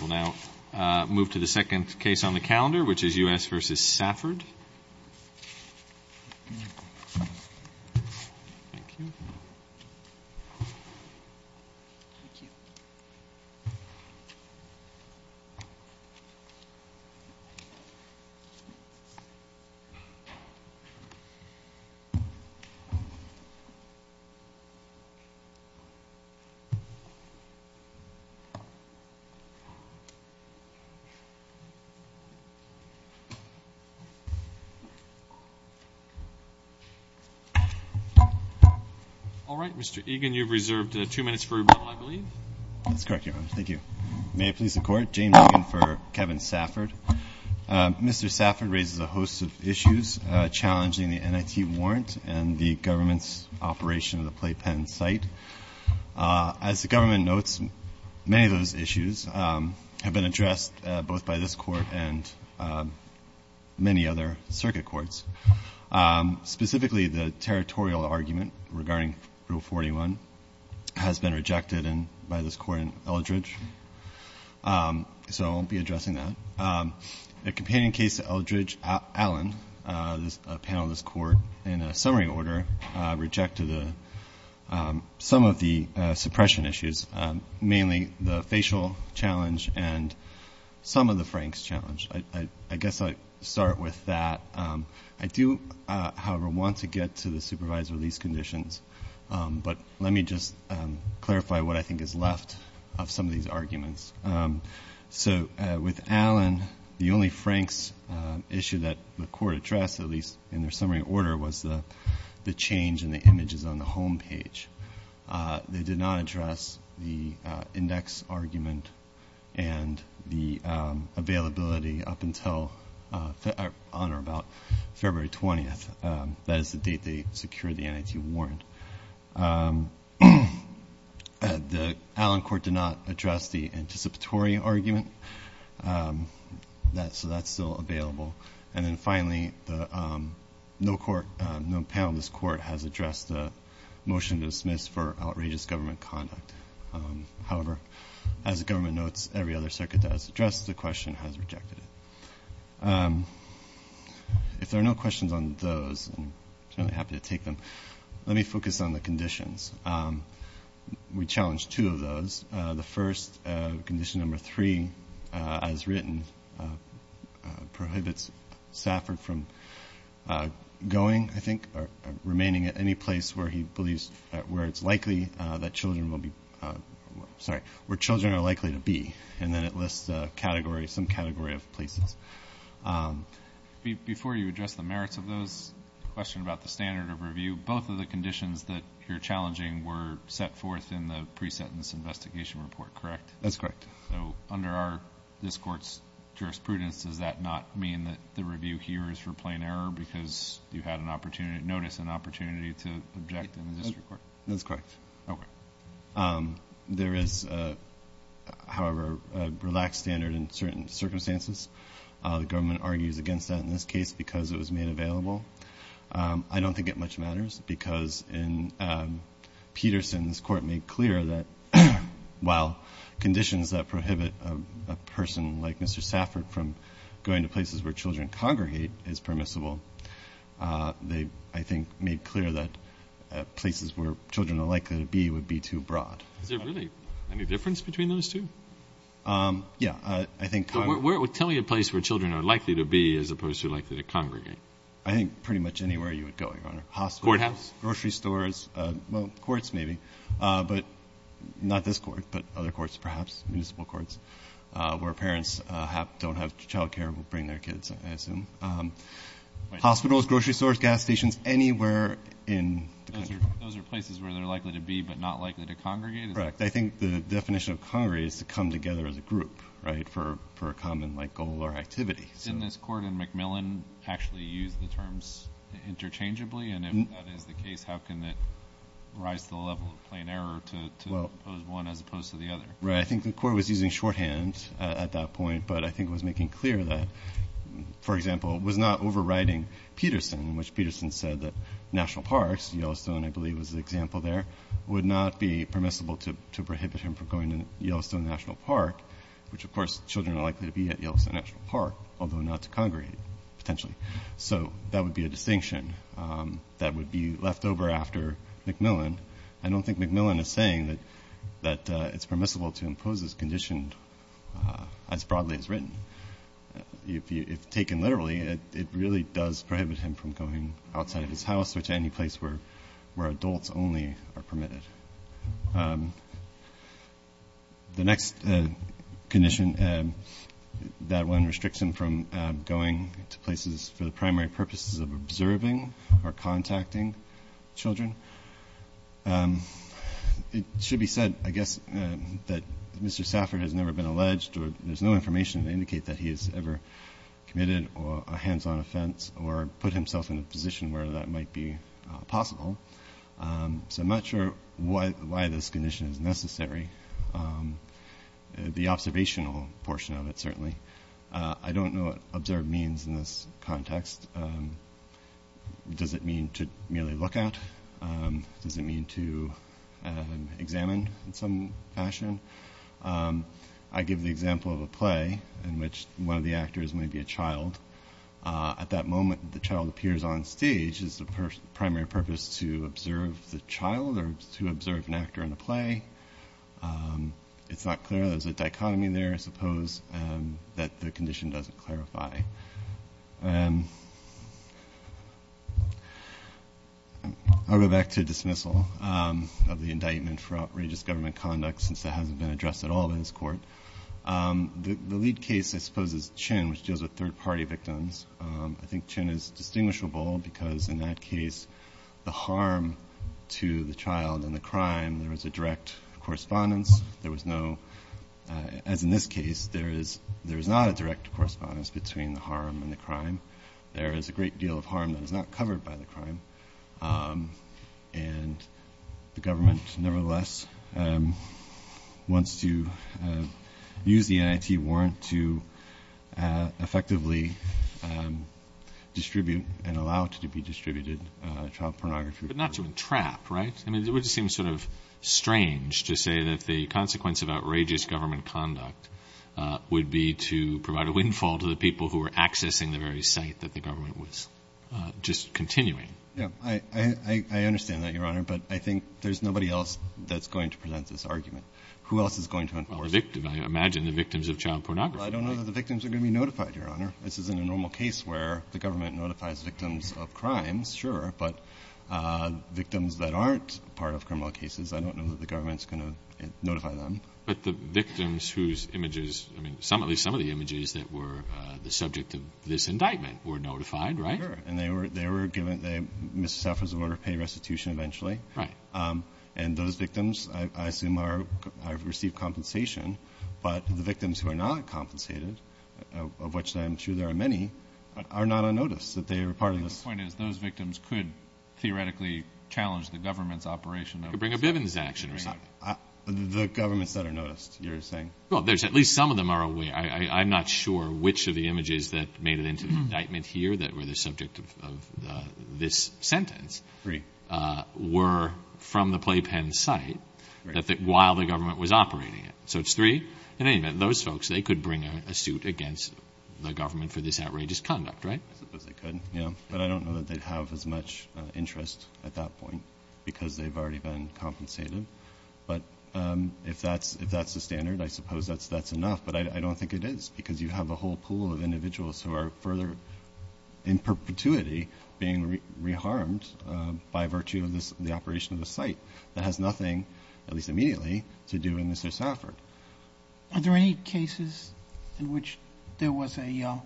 We'll now move to the second case on the calendar, which is U.S. v. Safford. All right, Mr. Egan, you've reserved two minutes for rebuttal, I believe. That's correct, Your Honor. Thank you. May it please the Court, James Egan for Kevin Safford. Mr. Safford raises a host of issues challenging the NIT warrant and the government's operation of the Playpen site. As the government notes, many of those issues have been addressed both by this Court and many other circuit courts. Specifically, the territorial argument regarding Rule 41 has been rejected by this Court in Eldridge, so I won't be addressing that. The companion case to Eldridge, Allen, a panel of this Court, in a summary order, rejected some of the suppression issues, mainly the facial challenge and some of the Franks challenge. I guess I'll start with that. I do, however, want to get to the supervised release conditions, but let me just clarify what I think is left of some of these arguments. So with Allen, the only Franks issue that the Court addressed, at least in their summary order, was the change in the images on the home page. They did not address the index argument and the availability up until about February 20th. That is the date they secured the NIT warrant. The Allen Court did not address the anticipatory argument, so that's still available. And then finally, no panel in this Court has addressed the motion to dismiss for outrageous government conduct. However, as the government notes, every other circuit that has addressed the question has rejected it. If there are no questions on those, I'm happy to take them. Let me focus on the conditions. We challenged two of those. The first, condition number three, as written, prohibits Stafford from going, I think, or remaining at any place where it's likely that children will be, sorry, where children are likely to be. And then it lists a category, some category of places. Before you address the merits of those, a question about the standard of review. Both of the conditions that you're challenging were set forth in the pre-sentence investigation report, correct? That's correct. So under this Court's jurisprudence, does that not mean that the review here is for plain error because you had notice and opportunity to object in the district court? That's correct. Okay. There is, however, a relaxed standard in certain circumstances. The government argues against that in this case because it was made available. I don't think it much matters because in Peterson's court made clear that while conditions that prohibit a person like Mr. Stafford from going to places where children congregate is permissible, they, I think, made clear that places where children are likely to be would be too broad. Is there really any difference between those two? Yeah. Tell me a place where children are likely to be as opposed to likely to congregate. I think pretty much anywhere you would go, Your Honor. Courthouse. Grocery stores. Well, courts maybe, but not this court, but other courts perhaps, municipal courts, where parents don't have child care will bring their kids, I assume. Hospitals, grocery stores, gas stations, anywhere in the country. Those are places where they're likely to be but not likely to congregate? Correct. I think the definition of congregate is to come together as a group, right, for a common goal or activity. Didn't this court in McMillan actually use the terms interchangeably? And if that is the case, how can it rise to the level of plain error to impose one as opposed to the other? Right. I think the court was using shorthand at that point, but I think it was making clear that, for example, it was not overriding Peterson, which Peterson said that national parks, Yellowstone I believe was an example there, would not be permissible to prohibit him from going to Yellowstone National Park, which, of course, children are likely to be at Yellowstone National Park, although not to congregate potentially. So that would be a distinction that would be left over after McMillan. I don't think McMillan is saying that it's permissible to impose this condition as broadly as written. If taken literally, it really does prohibit him from going outside of his house The next condition, that one restricts him from going to places for the primary purposes of observing or contacting children. It should be said, I guess, that Mr. Safford has never been alleged, or there's no information to indicate that he has ever committed a hands-on offense or put himself in a position where that might be possible. So I'm not sure why this condition is necessary. The observational portion of it, certainly. I don't know what observed means in this context. Does it mean to merely look at? Does it mean to examine in some fashion? I give the example of a play in which one of the actors may be a child. At that moment, the child appears on stage. Is the primary purpose to observe the child or to observe an actor in the play? It's not clear. There's a dichotomy there, I suppose, that the condition doesn't clarify. I'll go back to dismissal of the indictment for outrageous government conduct, since that hasn't been addressed at all in this court. The lead case, I suppose, is Chin, which deals with third-party victims. I think Chin is distinguishable because, in that case, the harm to the child and the crime, there was a direct correspondence. There was no, as in this case, there is not a direct correspondence between the harm and the crime. There is a great deal of harm that is not covered by the crime. And the government, nevertheless, wants to use the NIT warrant to effectively distribute and allow it to be distributed, child pornography. But not to entrap, right? I mean, it would seem sort of strange to say that the consequence of outrageous government conduct would be to provide a windfall to the people who were accessing the very site that the government was just continuing. Yeah. I understand that, Your Honor. But I think there's nobody else that's going to present this argument. Who else is going to enforce it? Well, the victim. I imagine the victims of child pornography. Well, I don't know that the victims are going to be notified, Your Honor. This isn't a normal case where the government notifies victims of crimes, sure. But victims that aren't part of criminal cases, I don't know that the government is going to notify them. But the victims whose images, I mean, at least some of the images that were the subject of this indictment were notified, right? Sure. And they were given a misdemeanor order of pay restitution eventually. Right. And those victims, I assume, have received compensation. But the victims who are not compensated, of which I'm sure there are many, are not on notice that they were part of this. My point is those victims could theoretically challenge the government's operation. Could bring a Bivens action or something. The governments that are noticed, you're saying. Well, there's at least some of them are aware. I'm not sure which of the images that made it into the indictment here that were the subject of this sentence were from the playpen site while the government was operating it. So it's three? In any event, those folks, they could bring a suit against the government for this outrageous conduct, right? I suppose they could, yeah. But I don't know that they'd have as much interest at that point because they've already been compensated. But if that's the standard, I suppose that's enough. But I don't think it is because you have a whole pool of individuals who are further in perpetuity being reharmed by virtue of the operation of the site. That has nothing, at least immediately, to do with Mr. Stafford. Are there any cases in which there was an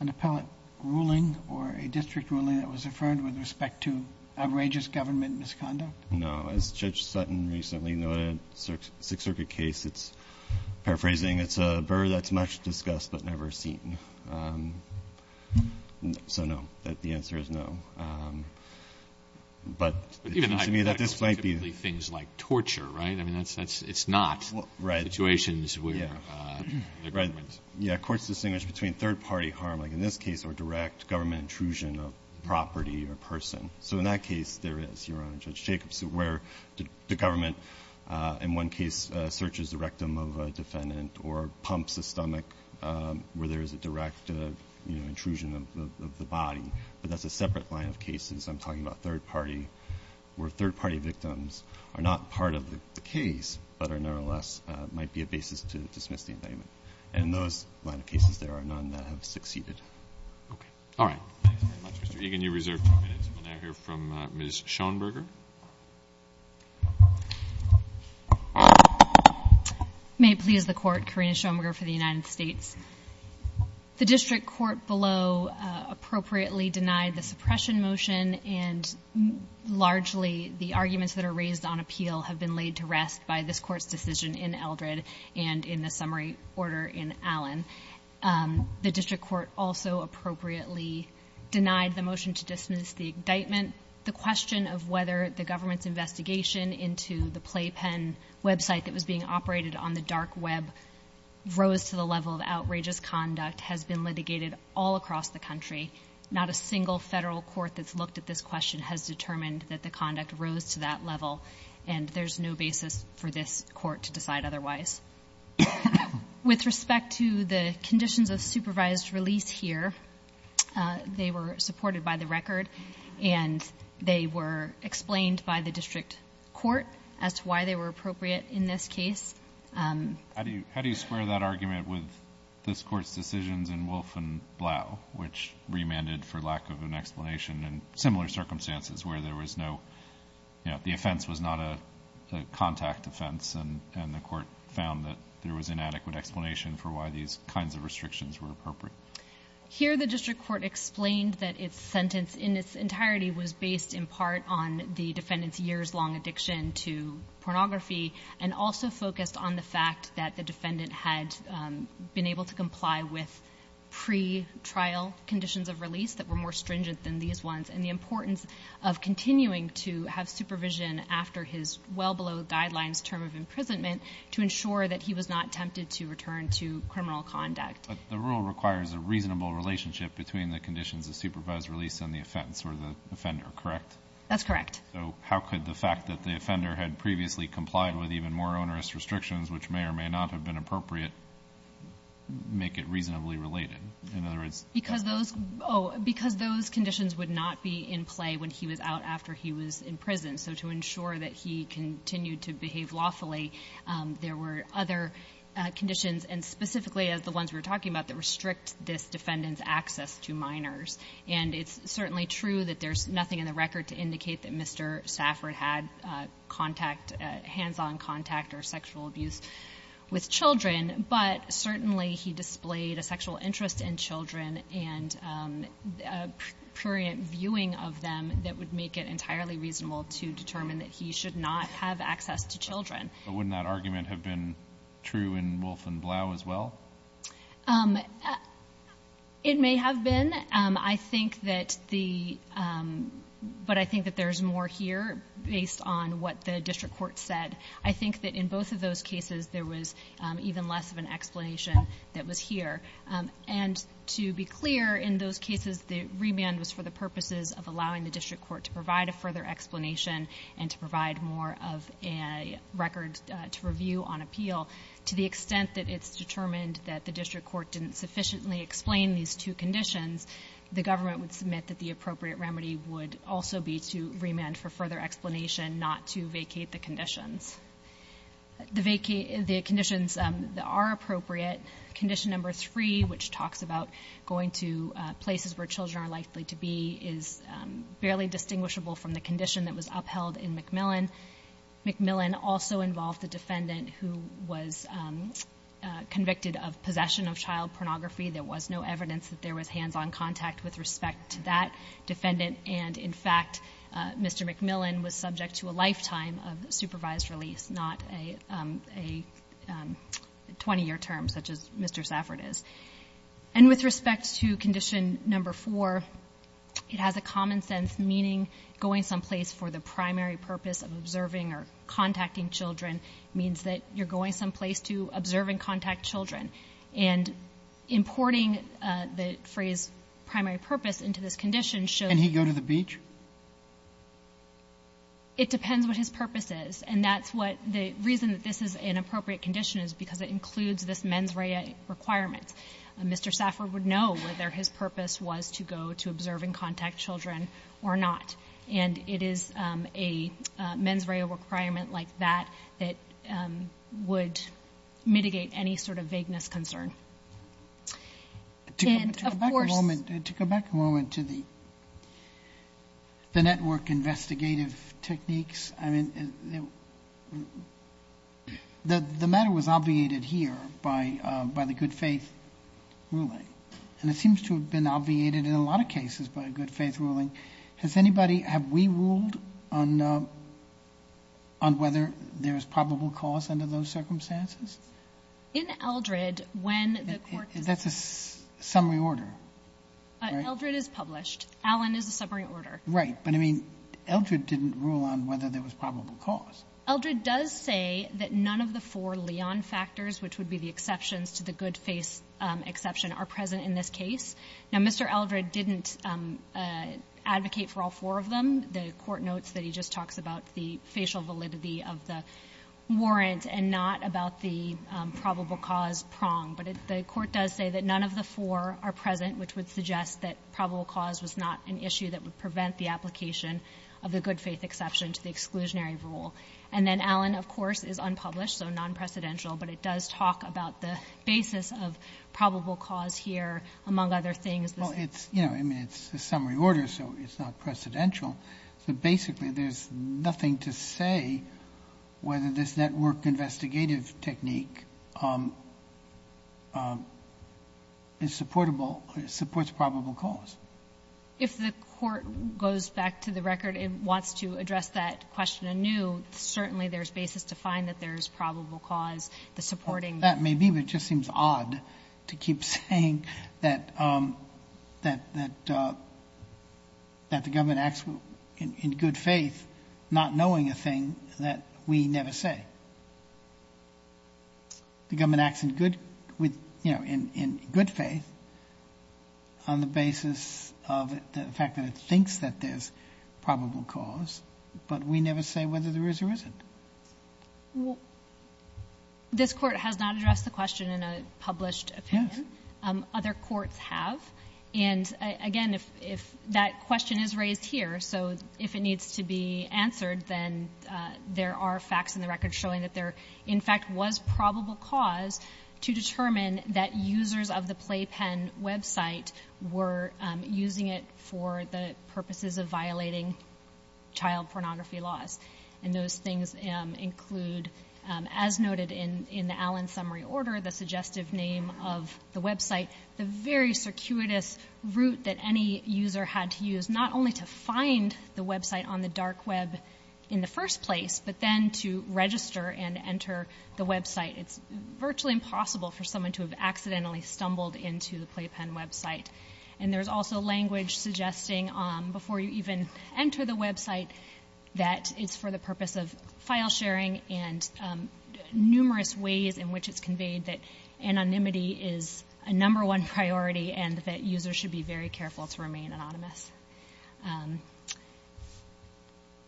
appellate ruling or a district ruling that was referred with respect to outrageous government misconduct? No. As Judge Sutton recently noted, Sixth Circuit case, it's, paraphrasing, it's a burr that's much discussed but never seen. So, no, the answer is no. But it seems to me that this might be. But even hypotheticals are typically things like torture, right? I mean, it's not situations where the government. Yeah, courts distinguish between third-party harm, like in this case, or direct government intrusion of property or person. So in that case, there is, Your Honor, Judge Jacobs, where the government, in one case, searches the rectum of a defendant or pumps the stomach where there is a direct intrusion of the body. But that's a separate line of cases. I'm talking about third-party where third-party victims are not part of the case but are nevertheless might be a basis to dismiss the indictment. And in those line of cases, there are none that have succeeded. Okay. All right. Thanks very much, Mr. Egan. We have a few minutes left. Can you reserve a few minutes when I hear from Ms. Schoenberger? May it please the Court, Karina Schoenberger for the United States. The district court below appropriately denied the suppression motion, and largely the arguments that are raised on appeal have been laid to rest by this Court's decision in Eldred and in the summary order in Allen. The district court also appropriately denied the motion to dismiss the indictment. The question of whether the government's investigation into the playpen website that was being operated on the dark web rose to the level of outrageous conduct has been litigated all across the country. Not a single federal court that's looked at this question has determined that the conduct rose to that level, and there's no basis for this court to decide otherwise. With respect to the conditions of supervised release here, they were supported by the record, and they were explained by the district court as to why they were appropriate in this case. How do you square that argument with this Court's decisions in Wolfe and Blau, which remanded for lack of an explanation in similar circumstances where there was no, you know, the offense was not a contact offense and the court found that there was inadequate explanation for why these kinds of restrictions were appropriate? Here the district court explained that its sentence in its entirety was based in part on the defendant's years-long addiction to pornography and also focused on the fact that the defendant had been able to comply with pre-trial conditions of release that were more stringent than these ones and the importance of continuing to have supervision after his well-below-guidelines term of imprisonment to ensure that he was not tempted to return to criminal conduct. But the rule requires a reasonable relationship between the conditions of supervised release and the offense for the offender, correct? That's correct. So how could the fact that the offender had previously complied with even more onerous restrictions, which may or may not have been appropriate, make it reasonably related? Because those conditions would not be in play when he was out after he was in prison. So to ensure that he continued to behave lawfully, there were other conditions, and specifically the ones we were talking about, that restrict this defendant's access to minors. And it's certainly true that there's nothing in the record to indicate that Mr. Stafford had contact, hands-on contact or sexual abuse with children. But certainly he displayed a sexual interest in children and a prurient viewing of them that would make it entirely reasonable to determine that he should not have access to children. But wouldn't that argument have been true in Wolfe and Blau as well? It may have been. I think that the ‑‑ but I think that there's more here based on what the district court said. I think that in both of those cases there was even less of an explanation that was here. And to be clear, in those cases the remand was for the purposes of allowing the district court to provide a further explanation and to provide more of a record to review on appeal. To the extent that it's determined that the district court didn't sufficiently explain these two conditions, the government would submit that the appropriate remedy would also be to remand for further explanation, not to vacate the conditions. The conditions that are appropriate, condition number three, which talks about going to places where children are likely to be, is barely distinguishable from the condition that was upheld in McMillan. McMillan also involved a defendant who was convicted of possession of child pornography. There was no evidence that there was hands-on contact with respect to that defendant. And, in fact, Mr. McMillan was subject to a lifetime of supervised release, not a 20‑year term such as Mr. Safford is. And with respect to condition number four, it has a common sense meaning that going someplace for the primary purpose of observing or contacting children means that you're going someplace to observe and contact children. And importing the phrase primary purpose into this condition shows ‑‑ And he go to the beach? It depends what his purpose is. And that's what the reason that this is an appropriate condition is because it includes this mens rea requirement. Mr. Safford would know whether his purpose was to go to observe and contact children or not. And it is a mens rea requirement like that that would mitigate any sort of vagueness concern. And, of course ‑‑ To go back a moment to the network investigative techniques, I mean, the matter was obviated here by the good faith ruling. And it seems to have been obviated in a lot of cases by good faith ruling. Has anybody ‑‑ have we ruled on whether there is probable cause under those circumstances? In Eldred, when the court ‑‑ That's a summary order. Eldred is published. Allen is a summary order. Right. But, I mean, Eldred didn't rule on whether there was probable cause. Eldred does say that none of the four Leon factors, which would be the exceptions to the good faith exception, are present in this case. Now, Mr. Eldred didn't advocate for all four of them. The court notes that he just talks about the facial validity of the warrant and not about the probable cause prong. But the court does say that none of the four are present, which would suggest that probable cause was not an issue that would prevent the application of the good faith exception to the exclusionary rule. And then Allen, of course, is unpublished, so non‑precedential, but it does talk about the basis of probable cause here, among other things. Well, it's, you know, I mean, it's a summary order, so it's not precedential. So, basically, there's nothing to say whether this network investigative technique is supportable, supports probable cause. If the court goes back to the record and wants to address that question anew, certainly there's basis to find that there's probable cause, the supporting. That may be, but it just seems odd to keep saying that the government acts in good faith, not knowing a thing that we never say. The government acts in good faith on the basis of the fact that it thinks that there's probable cause, but we never say whether there is or isn't. Well, this court has not addressed the question in a published opinion. Yes. Other courts have. And, again, if that question is raised here, so if it needs to be answered, then there are facts in the record showing that there, in fact, was probable cause to determine that users of the Playpen website were using it for the purposes of violating child pornography laws. And those things include, as noted in the Allen summary order, the suggestive name of the website, the very circuitous route that any user had to use, not only to find the website on the dark web in the first place, but then to register and enter the website. It's virtually impossible for someone to have accidentally stumbled into the Playpen website. And there's also language suggesting, before you even enter the website, that it's for the purpose of file sharing and numerous ways in which it's conveyed that anonymity is a number one priority and that users should be very careful to remain anonymous.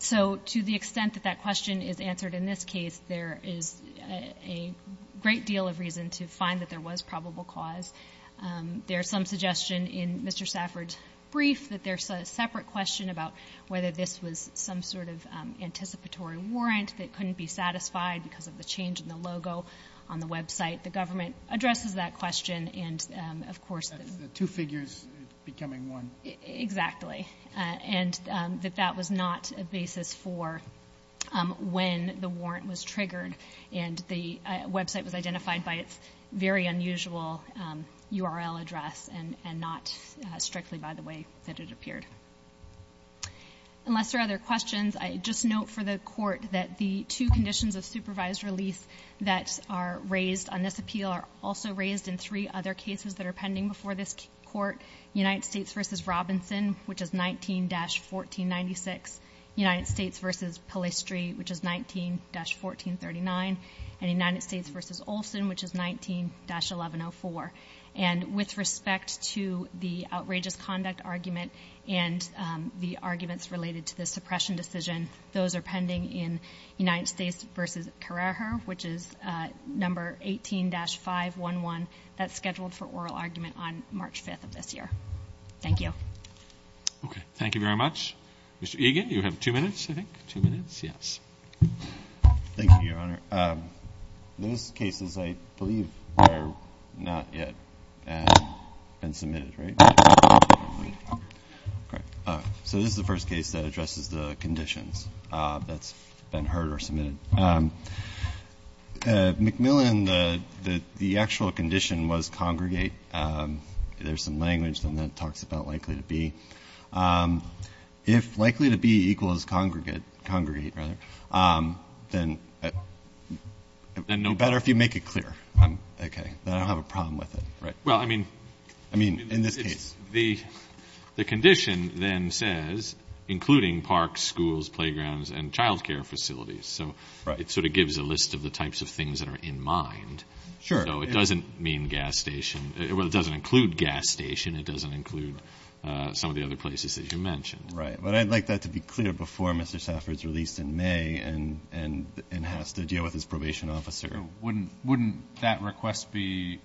So to the extent that that question is answered in this case, there is a great deal of reason to find that there was probable cause. There's some suggestion in Mr. Safford's brief that there's a separate question about whether this was some sort of anticipatory warrant that couldn't be satisfied because of the change in the logo on the website. The government addresses that question. The two figures becoming one. Exactly. And that that was not a basis for when the warrant was triggered and the website was identified by its very unusual URL address and not strictly by the way that it appeared. Unless there are other questions, I just note for the Court that the two conditions of supervised release that are raised on this appeal are also raised in three other cases that are pending before this Court, United States v. Robinson, which is 19-1496, United States v. Palistri, which is 19-1439, and United States v. Olson, which is 19-1104. And with respect to the outrageous conduct argument and the arguments related to the suppression decision, those are pending in United States v. Carrejo, which is number 18-511. That's scheduled for oral argument on March 5th of this year. Thank you. Okay. Thank you very much. Mr. Egan, you have two minutes, I think. Two minutes. Yes. Thank you, Your Honor. Those cases, I believe, are not yet been submitted, right? Correct. So this is the first case that addresses the conditions that's been heard or submitted. McMillan, the actual condition was congregate. There's some language that talks about likely to be. If likely to be equals congregate, then it would be better if you make it clear. Okay. Then I don't have a problem with it, right? Well, I mean in this case. The condition then says including parks, schools, playgrounds, and child care facilities. So it sort of gives a list of the types of things that are in mind. Sure. So it doesn't mean gas station. Well, it doesn't include gas station. It doesn't include some of the other places that you mentioned. Right. But I'd like that to be clear before Mr. Stafford is released in May and has to deal with his probation officer. Wouldn't that request be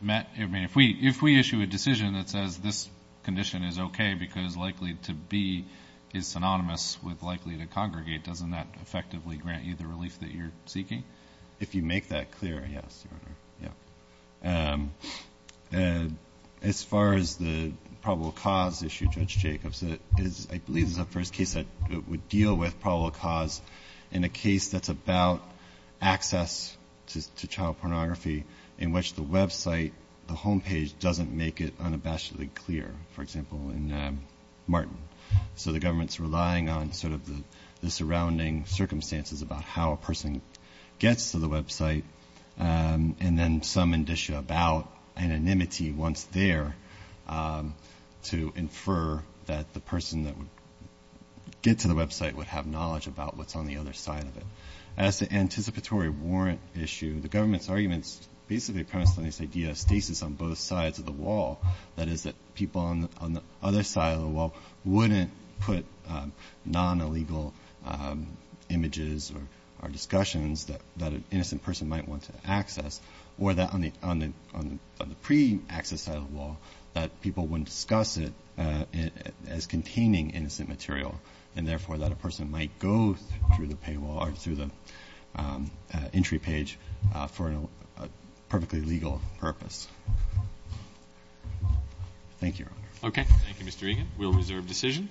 met? I mean, if we issue a decision that says this condition is okay because likely to be is synonymous with likely to congregate, doesn't that effectively grant you the relief that you're seeking? If you make that clear, yes, Your Honor. Yeah. As far as the probable cause issue, Judge Jacobs, I believe this is the first case that we deal with probable cause in a case that's about access to child pornography in which the website, the home page, doesn't make it unabashedly clear, for example, in Martin. So the government's relying on sort of the surrounding circumstances about how a person gets to the website and then some indicia about anonymity once there to infer that the person that would get to the website would have knowledge about what's on the other side of it. As the anticipatory warrant issue, the government's arguments basically are premised on this idea of stasis on both sides of the wall, that is that people on the other side of the wall wouldn't put non-illegal images or discussions that an innocent person might want to access or that on the pre-access side of the wall that people wouldn't discuss it as containing innocent material and therefore that a person might go through the entry page for a perfectly legal purpose. Thank you, Your Honor. Okay. Thank you, Mr. Egan. We'll reserve decision.